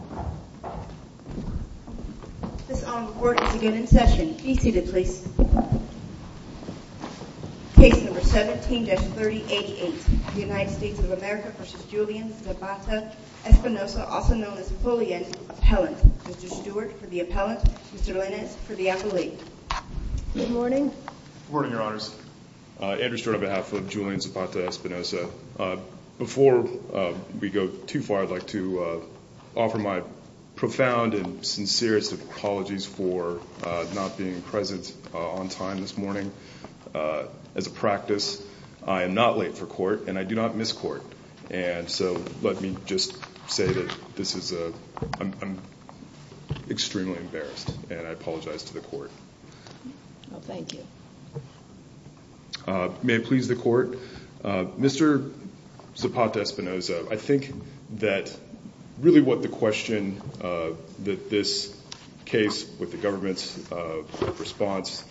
Good morning your honors. Andrew Stewart on behalf of Julian Zapata Espinoza. Before we begin, my profound and sincerest apologies for not being present on time this morning. As a practice, I am not late for court and I do not miss court and so let me just say that this is a, I'm extremely embarrassed and I apologize to the court. May it please the court. Mr. Zapata Espinoza, I think that really what the question that this case with the government's response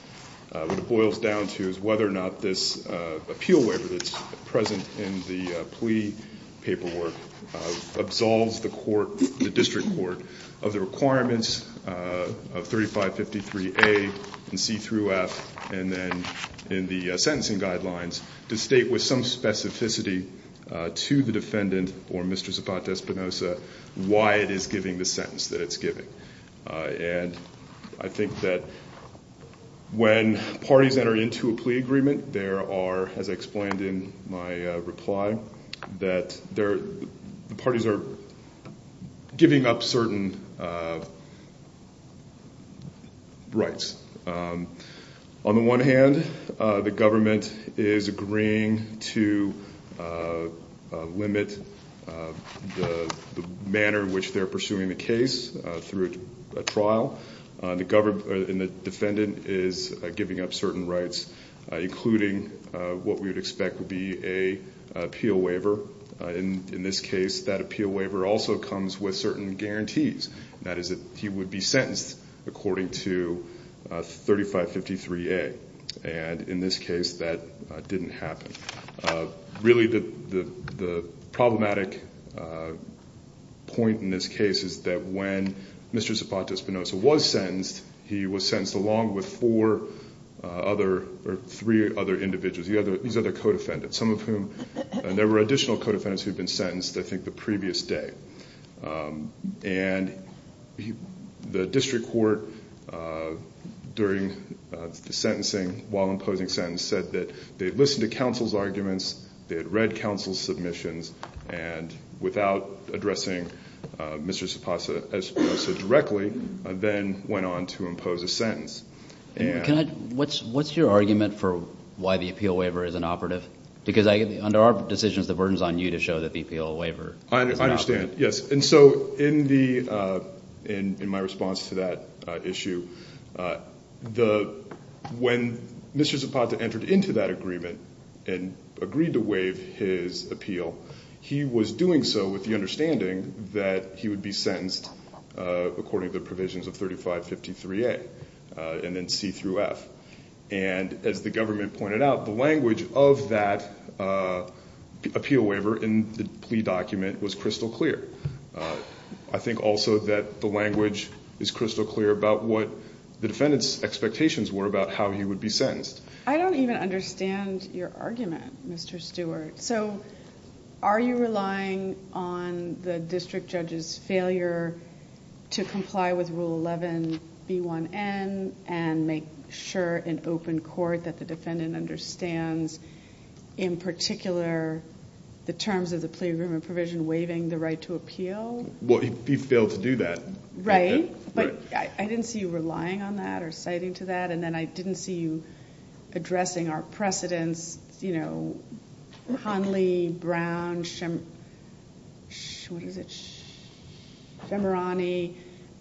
boils down to is whether or not this appeal waiver that's present in the plea paperwork absolves the court, the district court of the requirements of 3553A. In C through F and then in the sentencing guidelines to state with some specificity to the defendant or Mr. Zapata Espinoza why it is giving the sentence that it's giving. And I think that when parties enter into a plea agreement there are, as I explained in my reply, that the parties are giving up certain rights. On the one hand, the government is agreeing to limit the manner in which they're pursuing the case through a trial. The defendant is giving up certain rights including what we would expect would be an appeal waiver. In this case, that appeal waiver also comes with certain guarantees. That is that he would be sentenced according to 3553A. And in this case, that didn't happen. Really the problematic point in this case is that when Mr. Zapata Espinoza was sentenced, he was sentenced along with four other or three other individuals. These are the co-defendants, some of whom, and there were additional co-defendants who had been sentenced I think the previous day. And the district court during the sentencing while imposing sentence said that they had listened to counsel's arguments, they had read counsel's submissions, and without addressing Mr. Zapata Espinoza directly, then went on to impose a sentence. What's your argument for why the appeal waiver is inoperative? Because under our decisions, the burden is on you to show that the appeal waiver is inoperative. And as the government pointed out, the language of that appeal waiver in the plea document was crystal clear. I think also that the language is crystal clear about what the defendant's expectations were about how he would be sentenced. I don't even understand your argument, Mr. Stewart. So are you relying on the district judge's failure to comply with Rule 11B1N and make sure in open court that the defendant understands in particular the terms of the plea agreement provision waiving the right to appeal? Well, he failed to do that. Right. But I didn't see you relying on that or citing to that. And then I didn't see you addressing our precedents, you know, Conley, Brown, Schemerani,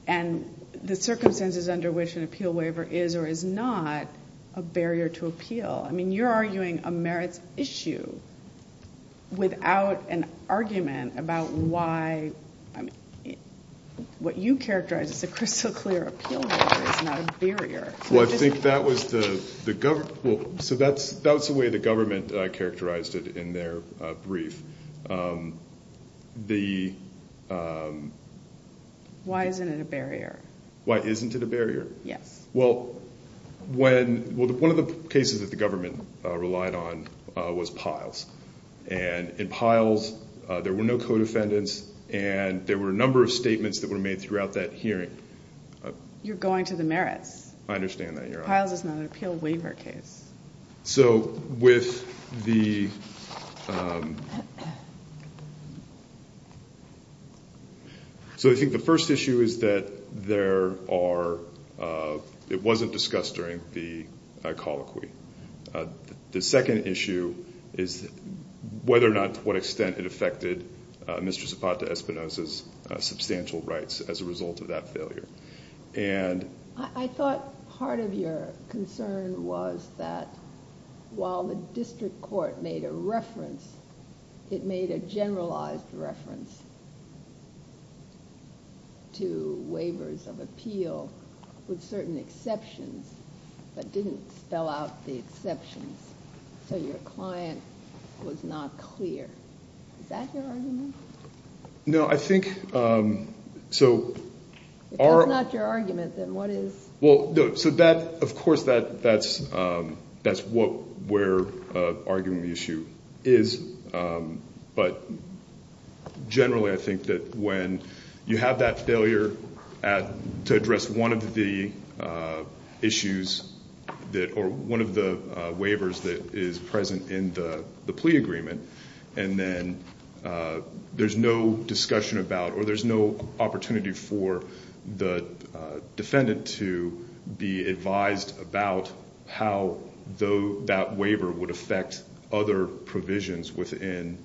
and the circumstances under which an appeal waiver is or is not a barrier to appeal. I mean, you're arguing a merits issue without an argument about why what you characterize as a crystal clear appeal waiver is not a barrier. Well, I think that was the way the government characterized it in their brief. Why isn't it a barrier? Why isn't it a barrier? Yes. Well, one of the cases that the government relied on was Piles. And in Piles, there were no co-defendants, and there were a number of statements that were made throughout that hearing. You're going to the merits. I understand that, Your Honor. Piles is not an appeal waiver case. So with the – so I think the first issue is that there are – it wasn't discussed during the colloquy. The second issue is whether or not to what extent it affected Mr. Zapata-Espinosa's substantial rights as a result of that failure. I thought part of your concern was that while the district court made a reference, it made a generalized reference to waivers of appeal with certain exceptions, but didn't spell out the exceptions. So your client was not clear. Is that your argument? No, I think – so our – If that's not your argument, then what is? Well, so that – of course, that's what we're arguing the issue is. But generally, I think that when you have that failure to address one of the issues that – or one of the waivers that is present in the plea agreement, and then there's no discussion about – or there's no opportunity for the defendant to be advised about how that waiver would affect other provisions within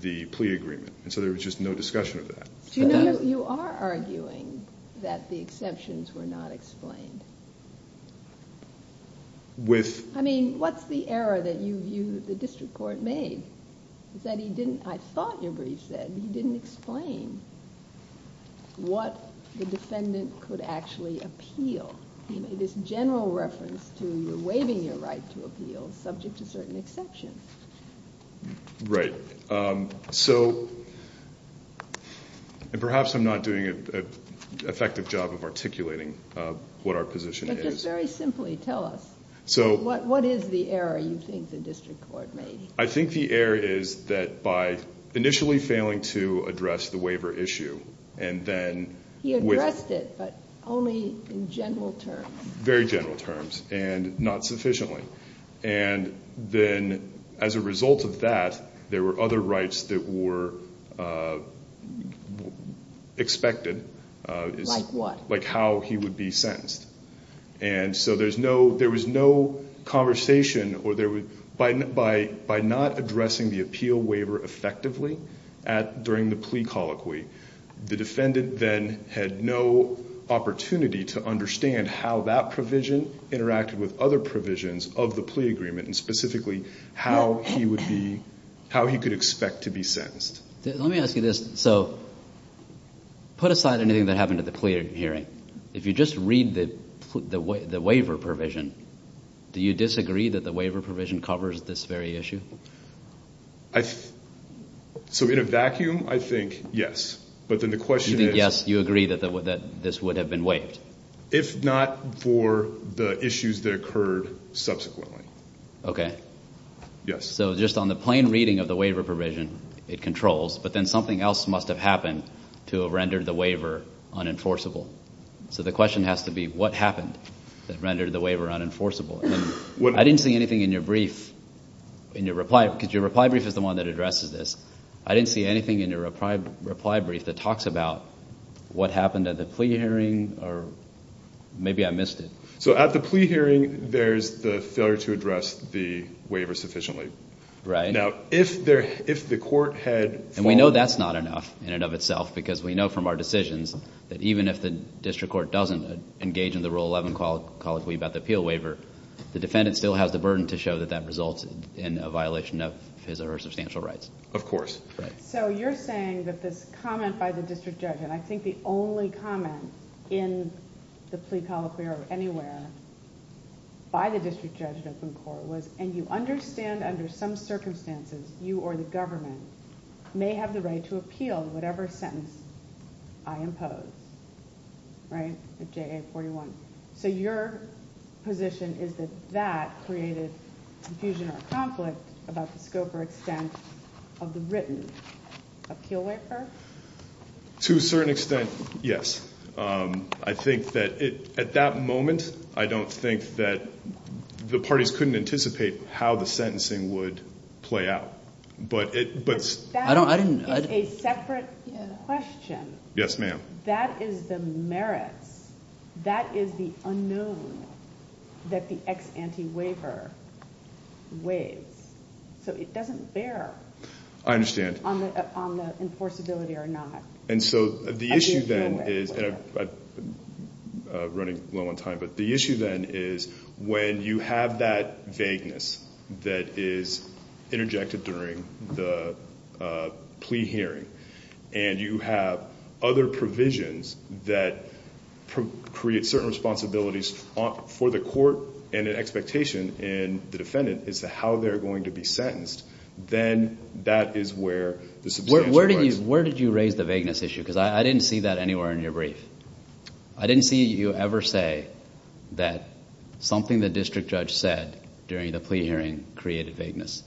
the plea agreement. And so there was just no discussion of that. You are arguing that the exceptions were not explained. With – I mean, what's the error that you view the district court made? Is that he didn't – I thought your brief said he didn't explain what the defendant could actually appeal. He made this general reference to waiving your right to appeal subject to certain exceptions. Right. So – and perhaps I'm not doing an effective job of articulating what our position is. But just very simply, tell us. What is the error you think the district court made? I think the error is that by initially failing to address the waiver issue and then – He addressed it, but only in general terms. Very general terms and not sufficiently. And then as a result of that, there were other rights that were expected. Like what? Like how he would be sentenced. And so there's no – there was no conversation or there – by not addressing the appeal waiver effectively during the plea colloquy, the defendant then had no opportunity to understand how that provision interacted with other provisions of the plea agreement and specifically how he would be – how he could expect to be sentenced. Let me ask you this. So put aside anything that happened at the plea hearing. If you just read the waiver provision, do you disagree that the waiver provision covers this very issue? So in a vacuum, I think yes. But then the question is – Yes, you agree that this would have been waived. If not for the issues that occurred subsequently. Okay. Yes. So just on the plain reading of the waiver provision, it controls. But then something else must have happened to have rendered the waiver unenforceable. So the question has to be what happened that rendered the waiver unenforceable? And I didn't see anything in your brief, in your reply, because your reply brief is the one that addresses this. I didn't see anything in your reply brief that talks about what happened at the plea hearing or maybe I missed it. So at the plea hearing, there's the failure to address the waiver sufficiently. Right. Now, if the court had – And we know that's not enough in and of itself because we know from our decisions that even if the district court doesn't engage in the Rule 11 Colloquy about the appeal waiver, the defendant still has the burden to show that that resulted in a violation of his or her substantial rights. Of course. Right. So you're saying that this comment by the district judge, and I think the only comment in the plea colloquy or anywhere by the district judge in open court was, and you understand under some circumstances you or the government may have the right to appeal whatever sentence I impose. Right? The JA-41. So your position is that that created confusion or conflict about the scope or extent of the written appeal waiver? To a certain extent, yes. I think that at that moment, I don't think that the parties couldn't anticipate how the sentencing would play out. But that is a separate question. Yes, ma'am. That is the merits. That is the unknown that the ex ante waiver weighs. So it doesn't bear. I understand. On the enforceability or not. And so the issue then is, and I'm running low on time, but the issue then is when you have that vagueness that is interjected during the plea hearing and you have other provisions that create certain responsibilities for the court and an expectation in the defendant as to how they're going to be sentenced, then that is where the substantial rights. Where did you raise the vagueness issue? Because I didn't see that anywhere in your brief. I didn't see you ever say that something the district judge said during the plea hearing created vagueness.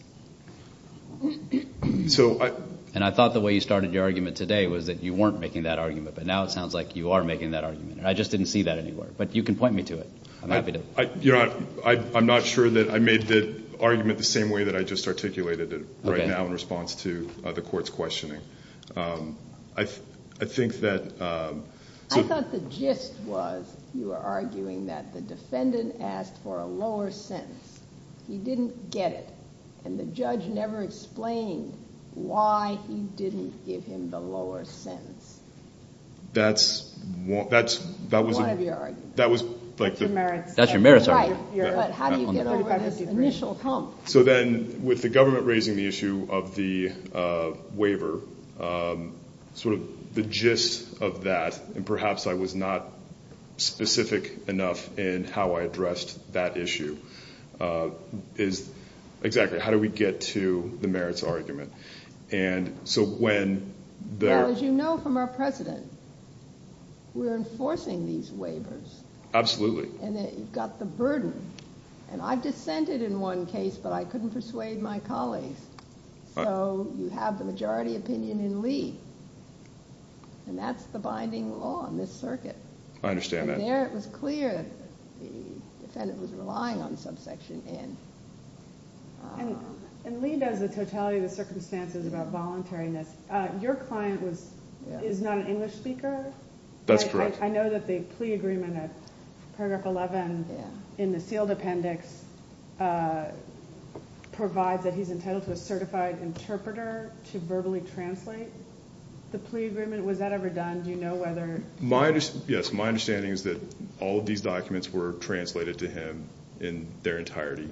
So I. And I thought the way you started your argument today was that you weren't making that argument. But now it sounds like you are making that argument. And I just didn't see that anywhere. But you can point me to it. I'm happy to. I'm not sure that I made the argument the same way that I just articulated it right now in response to the court's questioning. I think that. I thought the gist was you were arguing that the defendant asked for a lower sentence. He didn't get it. And the judge never explained why he didn't give him the lower sentence. That's one of your arguments. That's your merits argument. Right. But how do you get over this initial hump? So then with the government raising the issue of the waiver, sort of the gist of that, and perhaps I was not specific enough in how I addressed that issue, is exactly how do we get to the merits argument? And so when. As you know from our precedent, we're enforcing these waivers. Absolutely. And you've got the burden. And I've dissented in one case, but I couldn't persuade my colleagues. So you have the majority opinion in Lee. And that's the binding law in this circuit. I understand that. And there it was clear that the defendant was relying on subsection N. And Lee does the totality of the circumstances about voluntariness. Your client is not an English speaker. That's correct. I know that the plea agreement at paragraph 11 in the sealed appendix provides that he's entitled to a certified interpreter to verbally translate the plea agreement. Was that ever done? Do you know whether? Yes. My understanding is that all of these documents were translated to him in their entirety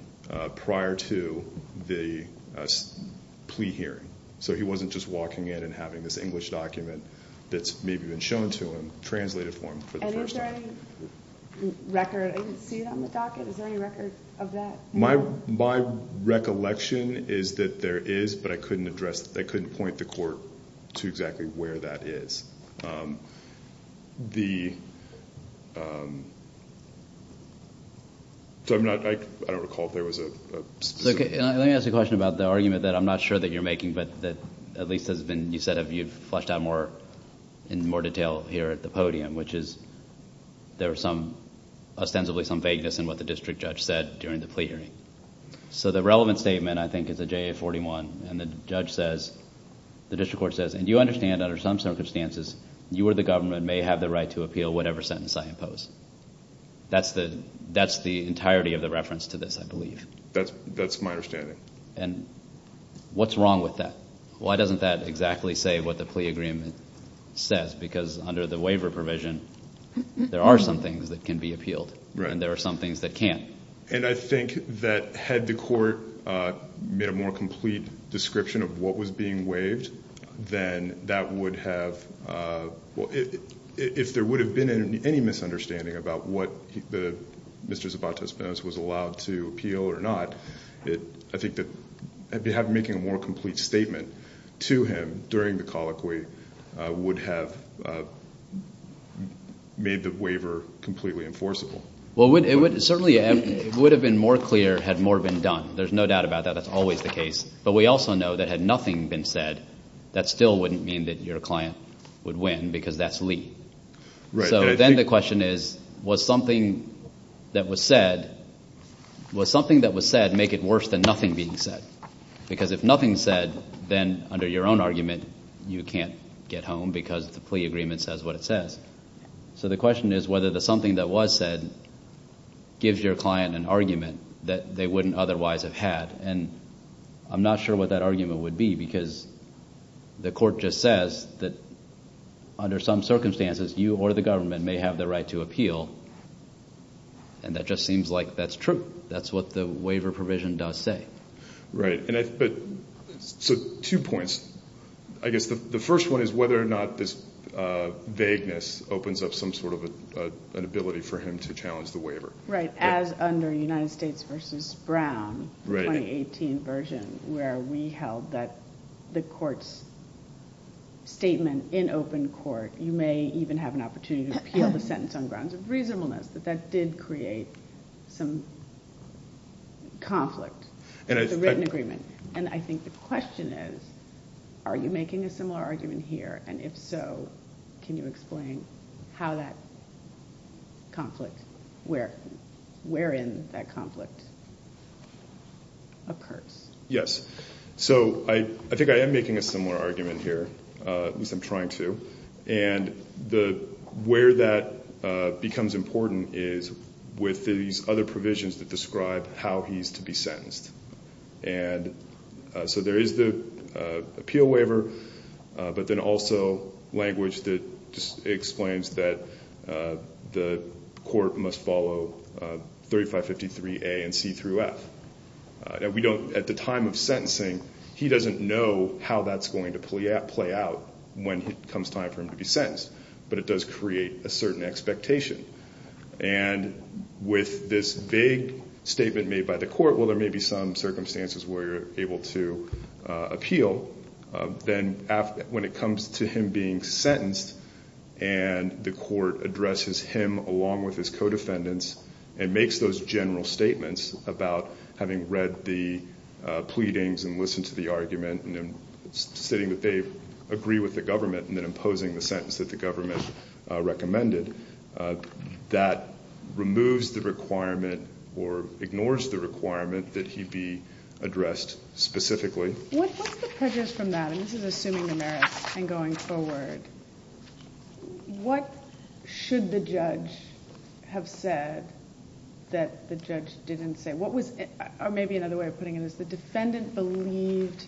prior to the plea hearing. So he wasn't just walking in and having this English document that's maybe been shown to him translated for him for the first time. And is there any record? I didn't see it on the docket. Is there any record of that? My recollection is that there is, but I couldn't point the court to exactly where that is. I don't recall if there was a specific... Let me ask you a question about the argument that I'm not sure that you're making, but that at least has been... you said you've fleshed out in more detail here at the podium, which is there was ostensibly some vagueness in what the district judge said during the plea hearing. So the relevant statement, I think, is a JA-41, and the judge says... the district court says, and you understand under some circumstances, you or the government may have the right to appeal whatever sentence I impose. That's the entirety of the reference to this, I believe. That's my understanding. And what's wrong with that? Why doesn't that exactly say what the plea agreement says? Because under the waiver provision, there are some things that can be appealed, and there are some things that can't. And I think that had the court made a more complete description of what was being waived, then that would have... if there would have been any misunderstanding about what Mr. Zabatez-Penas was allowed to appeal or not, I think that making a more complete statement to him during the colloquy would have made the waiver completely enforceable. Well, it would certainly have been more clear had more been done. There's no doubt about that. That's always the case. But we also know that had nothing been said, that still wouldn't mean that your client would win because that's Lee. Right. So then the question is, was something that was said make it worse than nothing being said? Because if nothing's said, then under your own argument, you can't get home because the plea agreement says what it says. So the question is whether the something that was said gives your client an argument that they wouldn't otherwise have had. And I'm not sure what that argument would be because the court just says that under some circumstances, you or the government may have the right to appeal, and that just seems like that's true. That's what the waiver provision does say. Right. So two points. I guess the first one is whether or not this vagueness opens up some sort of an ability for him to challenge the waiver. Right, as under United States v. Brown, the 2018 version, where we held that the court's statement in open court, you may even have an opportunity to appeal the sentence on grounds of reasonableness, that that did create some conflict with the written agreement. And I think the question is, are you making a similar argument here? And if so, can you explain how that conflict, wherein that conflict occurs? Yes. So I think I am making a similar argument here. At least I'm trying to. And where that becomes important is with these other provisions that describe how he's to be sentenced. And so there is the appeal waiver, but then also language that just explains that the court must follow 3553A and C through F. At the time of sentencing, he doesn't know how that's going to play out when it comes time for him to be sentenced, but it does create a certain expectation. And with this vague statement made by the court, well, there may be some circumstances where you're able to appeal. Then when it comes to him being sentenced and the court addresses him along with his co-defendants and makes those general statements about having read the pleadings and listened to the argument and then stating that they agree with the government and then imposing the sentence that the government recommended, that removes the requirement or ignores the requirement that he be addressed specifically. What's the prejudice from that? And this is assuming the merits and going forward. What should the judge have said that the judge didn't say? Maybe another way of putting it is the defendant believed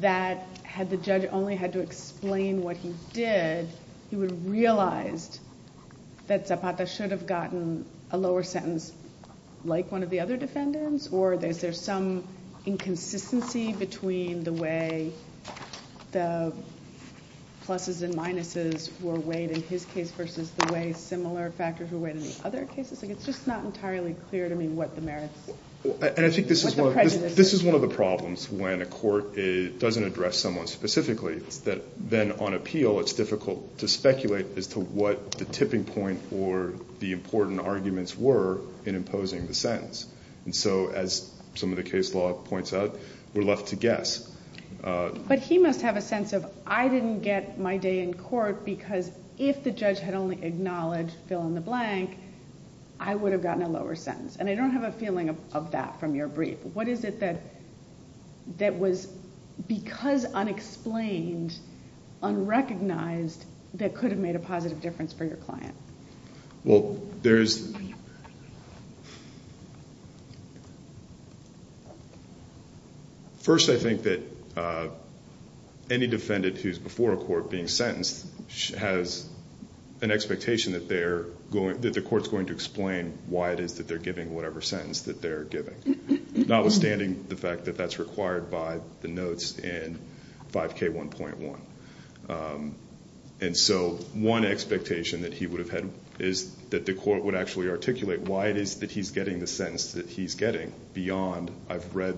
that had the judge only had to explain what he did, he would have realized that Zapata should have gotten a lower sentence like one of the other defendants, or is there some inconsistency between the way the pluses and minuses were weighed in his case versus the way similar factors were weighed in the other cases? It's just not entirely clear to me what the merits, what the prejudice is. And I think this is one of the problems when a court doesn't address someone specifically. It's that then on appeal it's difficult to speculate as to what the tipping point or the important arguments were in imposing the sentence. And so as some of the case law points out, we're left to guess. But he must have a sense of I didn't get my day in court because if the judge had only acknowledged fill in the blank, I would have gotten a lower sentence. And I don't have a feeling of that from your brief. What is it that was because unexplained, unrecognized, that could have made a positive difference for your client? Well, first I think that any defendant who's before a court being sentenced has an expectation that the court's going to explain why it is that they're giving whatever sentence that they're giving, notwithstanding the fact that that's required by the notes in 5K1.1. And so one expectation that he would have had is that the court would actually articulate why it is that he's getting the sentence that he's getting beyond I've read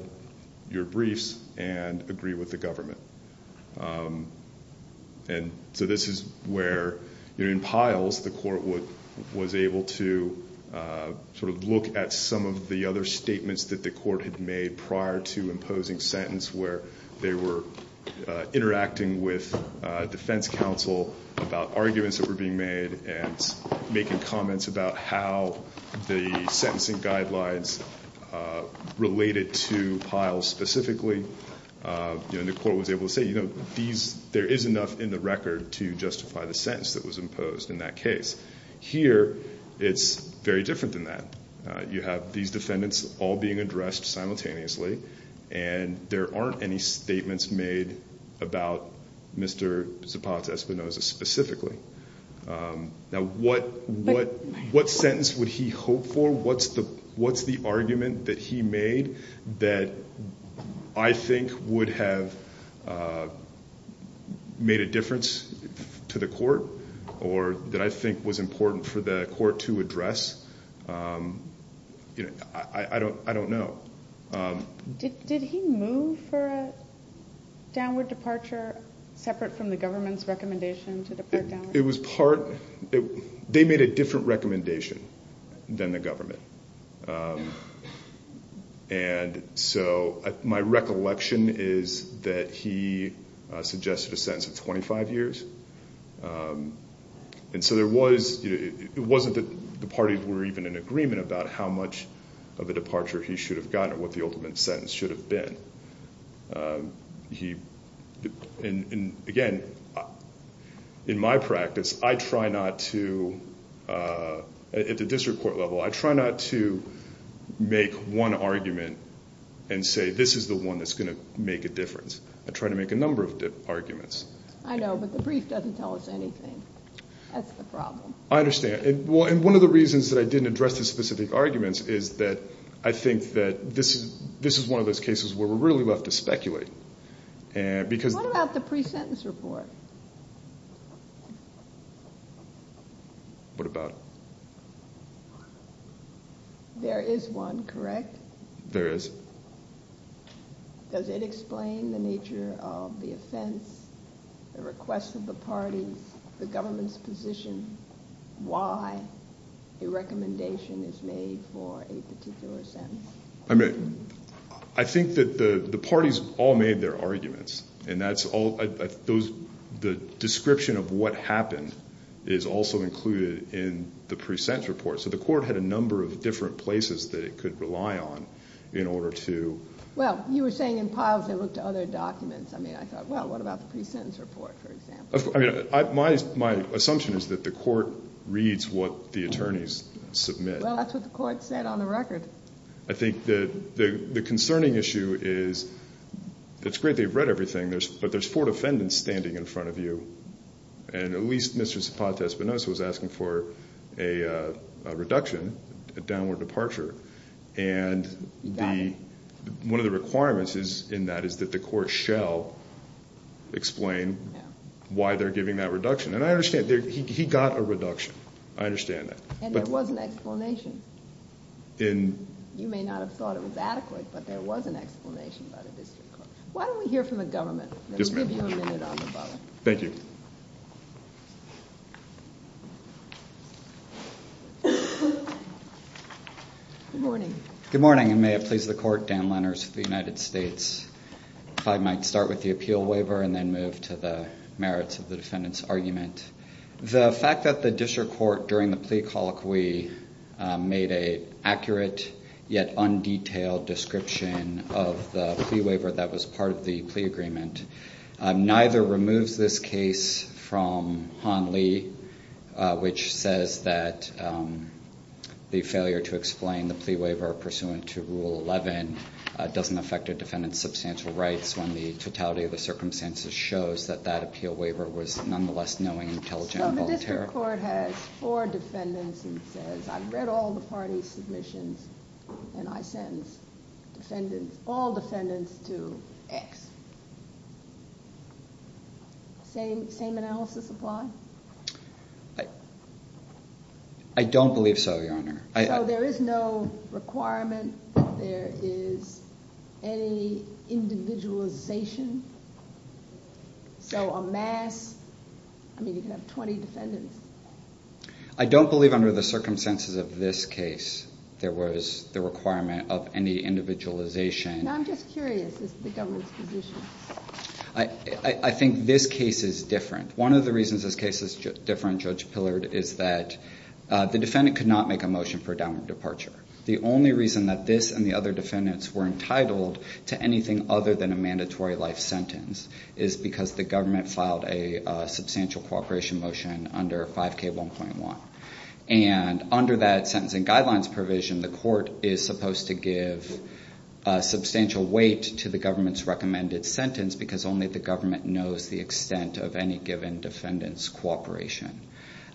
your briefs and agree with the government. And so this is where in piles the court was able to sort of look at some of the other statements that the court had made prior to imposing sentence where they were interacting with defense counsel about arguments that were being made and making comments about how the sentencing guidelines related to piles specifically. The court was able to say there is enough in the record to justify the sentence that was imposed in that case. Here it's very different than that. You have these defendants all being addressed simultaneously, and there aren't any statements made about Mr. Zapata-Espinosa specifically. Now what sentence would he hope for? What's the argument that he made that I think would have made a difference to the court or that I think was important for the court to address? I don't know. Did he move for a downward departure separate from the government's recommendation to depart downward? It was part. They made a different recommendation than the government. And so my recollection is that he suggested a sentence of 25 years. And so it wasn't that the parties were even in agreement about how much of a departure he should have gotten or what the ultimate sentence should have been. Again, in my practice, I try not to, at the district court level, I try not to make one argument and say this is the one that's going to make a difference. I try to make a number of arguments. I know, but the brief doesn't tell us anything. That's the problem. I understand. And one of the reasons that I didn't address the specific arguments is that I think that this is one of those cases where we're really left to speculate. What about the pre-sentence report? What about it? There is one, correct? There is. Does it explain the nature of the offense, the request of the parties, the government's position, why a recommendation is made for a particular sentence? I think that the parties all made their arguments, and the description of what happened is also included in the pre-sentence report. So the court had a number of different places that it could rely on in order to… Well, you were saying in piles they looked at other documents. I mean, I thought, well, what about the pre-sentence report, for example? My assumption is that the court reads what the attorneys submit. Well, that's what the court said on the record. I think the concerning issue is it's great they've read everything, but there's four defendants standing in front of you, and at least Mr. Zapata-Espinosa was asking for a reduction, a downward departure. And one of the requirements in that is that the court shall explain why they're giving that reduction. And I understand. He got a reduction. I understand that. And there was an explanation. You may not have thought it was adequate, but there was an explanation by the district court. Why don't we hear from the government? Yes, ma'am. We'll give you a minute on the bottom. Thank you. Good morning. Good morning, and may it please the court, Dan Lenners of the United States. If I might start with the appeal waiver and then move to the merits of the defendant's argument. The fact that the district court, during the plea colloquy, made an accurate yet undetailed description of the plea waiver that was part of the plea agreement, neither removes this case from Han Lee, which says that the failure to explain the plea waiver pursuant to Rule 11 doesn't affect a defendant's substantial rights when the totality of the circumstances shows that that appeal waiver was nonetheless knowing, intelligent, and voluntary. So the district court has four defendants and says, I've read all the parties' submissions, and I sentence all defendants to X. Same analysis apply? I don't believe so, Your Honor. So there is no requirement that there is any individualization? So a mass, I mean, you could have 20 defendants. I don't believe under the circumstances of this case there was the requirement of any individualization. Now, I'm just curious as to the government's position. I think this case is different. One of the reasons this case is different, Judge Pillard, is that the defendant could not make a motion for a downward departure. The only reason that this and the other defendants were entitled to anything other than a mandatory life sentence is because the government filed a substantial cooperation motion under 5K1.1. And under that sentencing guidelines provision, the court is supposed to give substantial weight to the government's recommended sentence because only the government knows the extent of any given defendant's cooperation.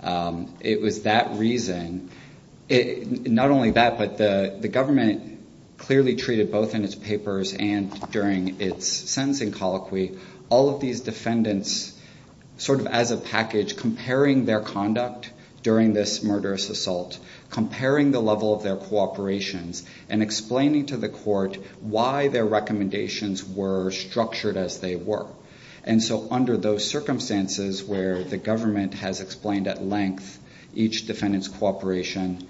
It was that reason. Not only that, but the government clearly treated both in its papers and during its sentencing colloquy all of these defendants sort of as a package, comparing their conduct during this murderous assault, comparing the level of their cooperations, and explaining to the court why their recommendations were structured as they were. And so under those circumstances where the government has explained at length each defendant's cooperation,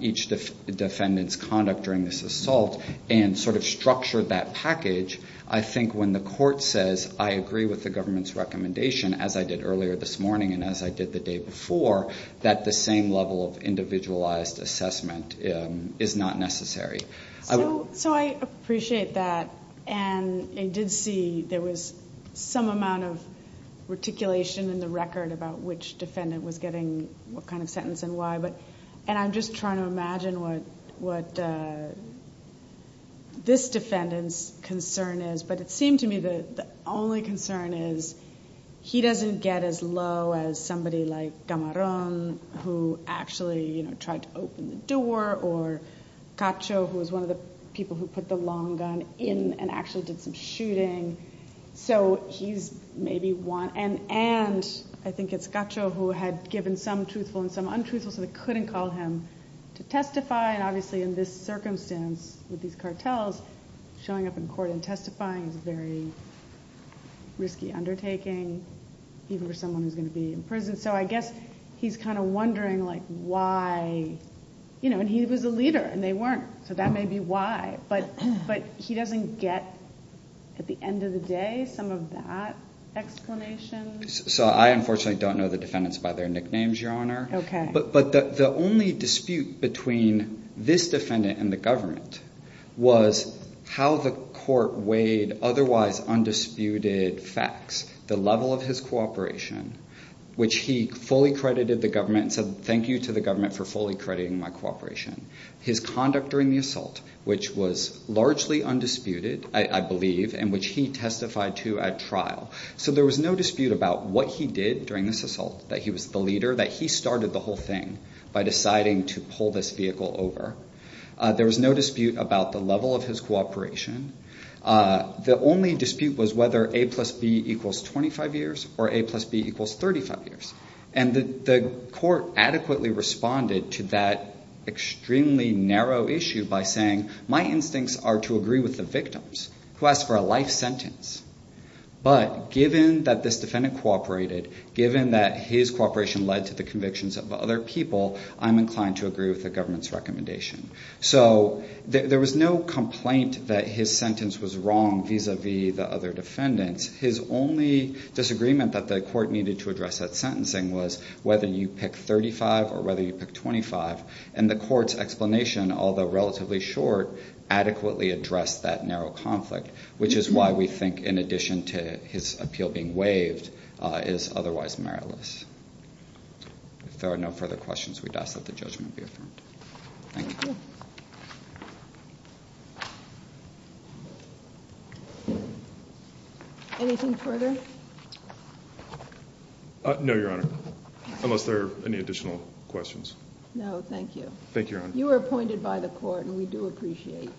each defendant's conduct during this assault, and sort of structured that package, I think when the court says, I agree with the government's recommendation, as I did earlier this morning and as I did the day before, that the same level of individualized assessment is not necessary. So I appreciate that, and I did see there was some amount of reticulation in the record about which defendant was getting what kind of sentence and why. And I'm just trying to imagine what this defendant's concern is. But it seemed to me that the only concern is he doesn't get as low as somebody like Camarón, who actually tried to open the door, or Cacho, who was one of the people who put the long gun in and actually did some shooting. And I think it's Cacho who had given some truthful and some untruthful, so they couldn't call him to testify. And obviously in this circumstance, with these cartels, showing up in court and testifying is a very risky undertaking, even for someone who's going to be in prison. So I guess he's kind of wondering why. And he was a leader, and they weren't, so that may be why. But he doesn't get, at the end of the day, some of that explanation. So I unfortunately don't know the defendants by their nicknames, Your Honor. Okay. But the only dispute between this defendant and the government was how the court weighed otherwise undisputed facts, the level of his cooperation, which he fully credited the government and said thank you to the government for fully crediting my cooperation, his conduct during the assault, which was largely undisputed, I believe, and which he testified to at trial. So there was no dispute about what he did during this assault, that he was the leader, that he started the whole thing by deciding to pull this vehicle over. There was no dispute about the level of his cooperation. The only dispute was whether A plus B equals 25 years or A plus B equals 35 years. And the court adequately responded to that extremely narrow issue by saying, my instincts are to agree with the victims who asked for a life sentence. But given that this defendant cooperated, given that his cooperation led to the convictions of other people, I'm inclined to agree with the government's recommendation. So there was no complaint that his sentence was wrong vis-a-vis the other defendants. His only disagreement that the court needed to address that sentencing was whether you pick 35 or whether you pick 25. And the court's explanation, although relatively short, adequately addressed that narrow conflict, which is why we think in addition to his appeal being waived is otherwise meritless. If there are no further questions, we'd ask that the judgment be affirmed. Thank you. Anything further? No, Your Honor, unless there are any additional questions. No, thank you. Thank you, Your Honor. You were appointed by the court, and we do appreciate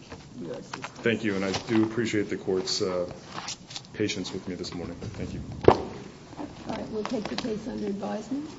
your assistance. Thank you, and I do appreciate the court's patience with me this morning. Thank you. All right, we'll take the case under advisement.